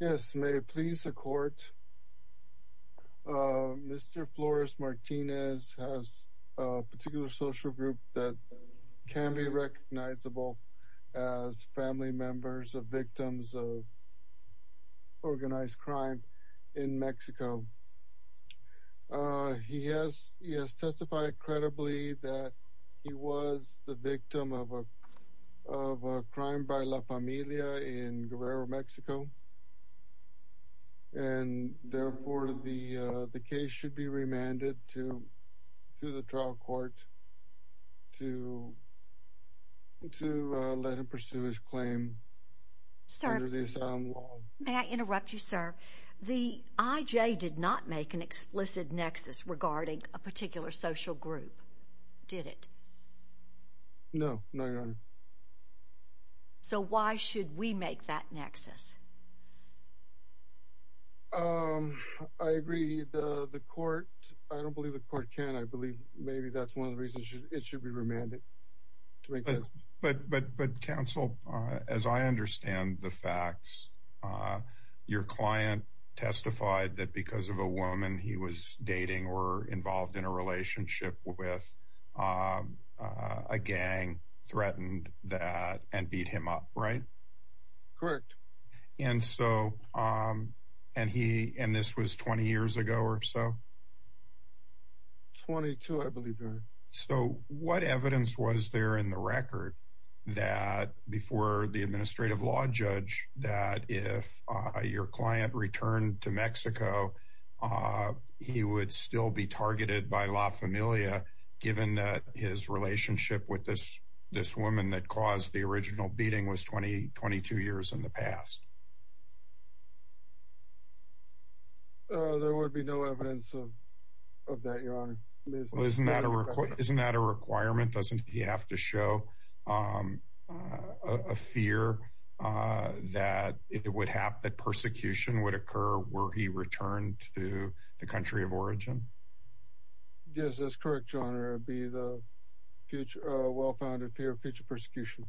yes may it please the court mr. Flores Martinez has a particular social group that can be recognizable as family members of victims of organized crime in Mexico he has he has testified credibly that he was the victim of a crime by la Amelia in Guerrero Mexico and therefore the the case should be remanded to to the trial court to to let him pursue his claim may I interrupt you sir the IJ did not make an explicit nexus regarding a particular social group did it no so why should we make that nexus I agree the the court I don't believe the court can I believe maybe that's one of the reasons it should be remanded but but but counsel as I understand the facts your client testified that because of a woman he was dating or involved in a relationship with a gang threatened that and beat him up right correct and so and he and this was 20 years ago or so 22 I believe so what evidence was there in the record that before the administrative law judge that if your client returned to Mexico he would still be targeted by la familia given that his relationship with this this woman that was the original beating was 2022 years in the past there would be no evidence of that your honor isn't that a record isn't that a requirement doesn't he have to show a fear that it would have that persecution would occur where he returned to the country of origin yes that's correct your honor be the future well-founded fear of future persecution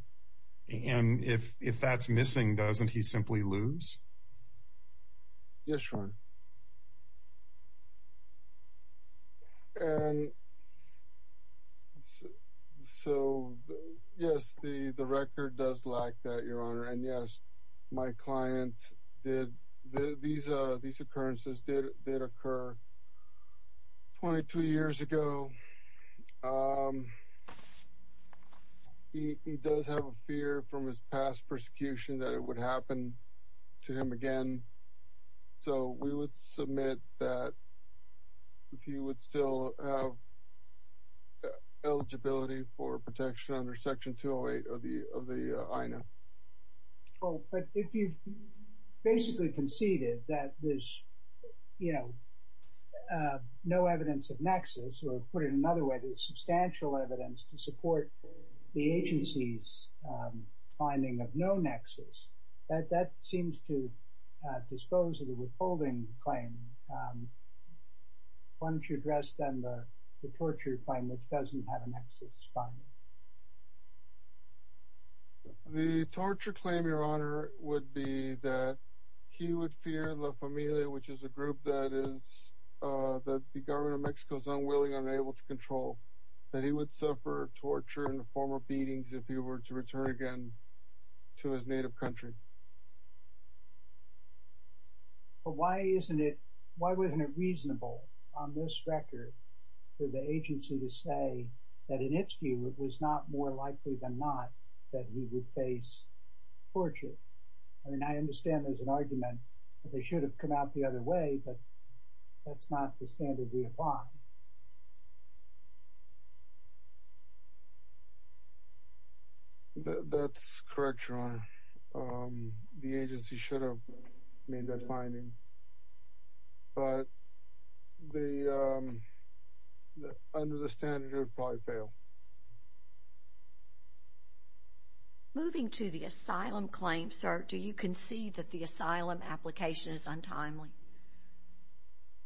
and if if that's missing doesn't he simply lose yes sure so yes the the record does lack that your honor and yes my clients did these occurrences did occur 22 years ago he does have a fear from his past persecution that it would happen to him again so we would submit that if you would still have eligibility for protection under section 208 of the of the I know well but if you've basically conceded that there's you know no evidence of nexus or put it another way there's substantial evidence to support the agency's finding of no nexus that that seems to dispose of the withholding claim one should rest them the torture claim which doesn't have an excess the torture claim your honor would be that he would fear la familia which is a group that is that the government Mexico's unwilling unable to control that he would suffer torture and former beatings if he were to return again to his native country but why isn't it why wasn't it reasonable on this record for the agency to say that in its view it was not more likely than not that we would face torture I mean I understand there's an argument but they should have come out the other way but that's not the standard we apply that's correct wrong the agency should have made that finding but the under the standard reply fail moving to the asylum claim sir do you concede that the asylum application is untimely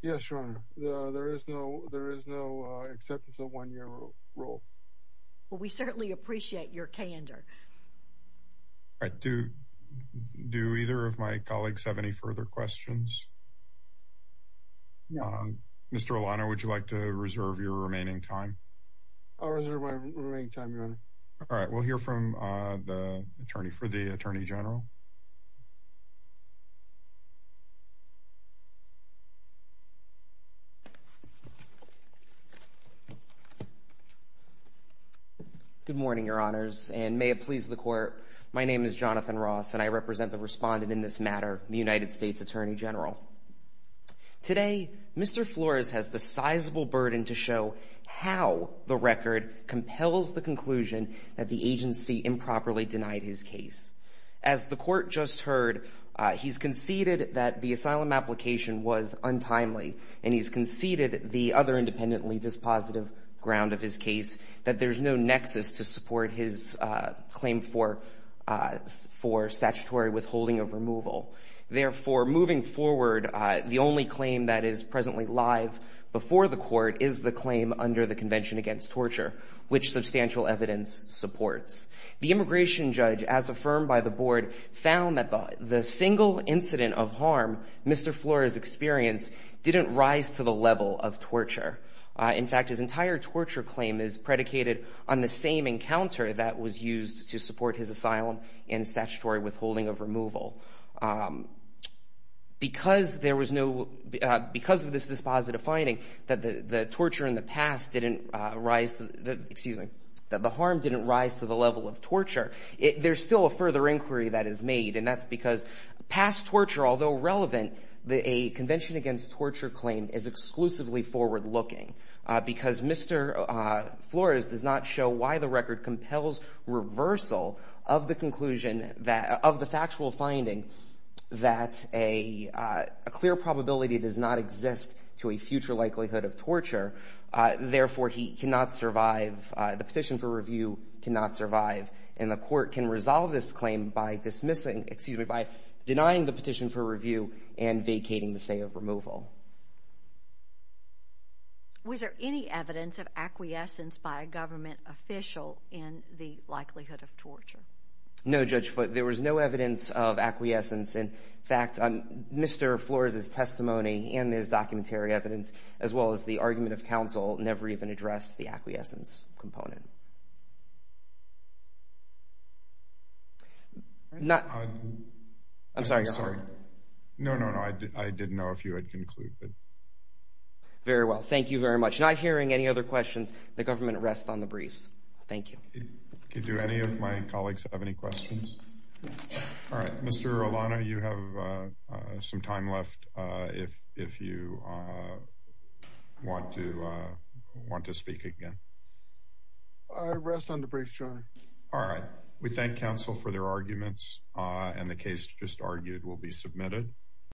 yes your honor there is no there is no acceptance of one-year rule we certainly appreciate your candor I do do either of my colleagues have any further questions mr. O'Connor would you like to reserve your remaining time all right we'll hear from the attorney for the Attorney General good morning your honors and may it please the court my name is Jonathan Ross and I represent the respondent in this matter the United States Attorney General today mr. Flores has the sizable burden to show how the the court just heard he's conceded that the asylum application was untimely and he's conceded the other independently dispositive ground of his case that there's no nexus to support his claim for for statutory withholding of removal therefore moving forward the only claim that is presently live before the court is the claim under the Convention Against Torture which substantial evidence supports the immigration judge as affirmed by the board found that the single incident of harm mr. Flores experience didn't rise to the level of torture in fact his entire torture claim is predicated on the same encounter that was used to support his asylum and statutory withholding of removal because there was no because of this dispositive finding that the the torture in the past didn't rise to the harm didn't rise to the level of torture it there's still a further inquiry that is made and that's because past torture although relevant the convention against torture claim is exclusively forward-looking because mr. Flores does not show why the record compels reversal of the conclusion that of the factual finding that a clear probability does not exist to a future likelihood of torture therefore he cannot survive the petition for review cannot survive in the court can resolve this claim by dismissing excuse me by denying the petition for review and vacating the state of removal was there any evidence of acquiescence by a government official in the likelihood of torture no judge but there was no evidence of acquiescence in fact on mr. Flores is testimony in this documentary evidence as well as the argument of counsel never even addressed the acquiescence component not I'm sorry sorry no no no I did I didn't know if you had concluded very well thank you very much not hearing any other questions the government rest on the briefs thank you could do any of my colleagues have any questions all right if if you want to want to speak again all right we thank counsel for their arguments and the case just argued will be submitted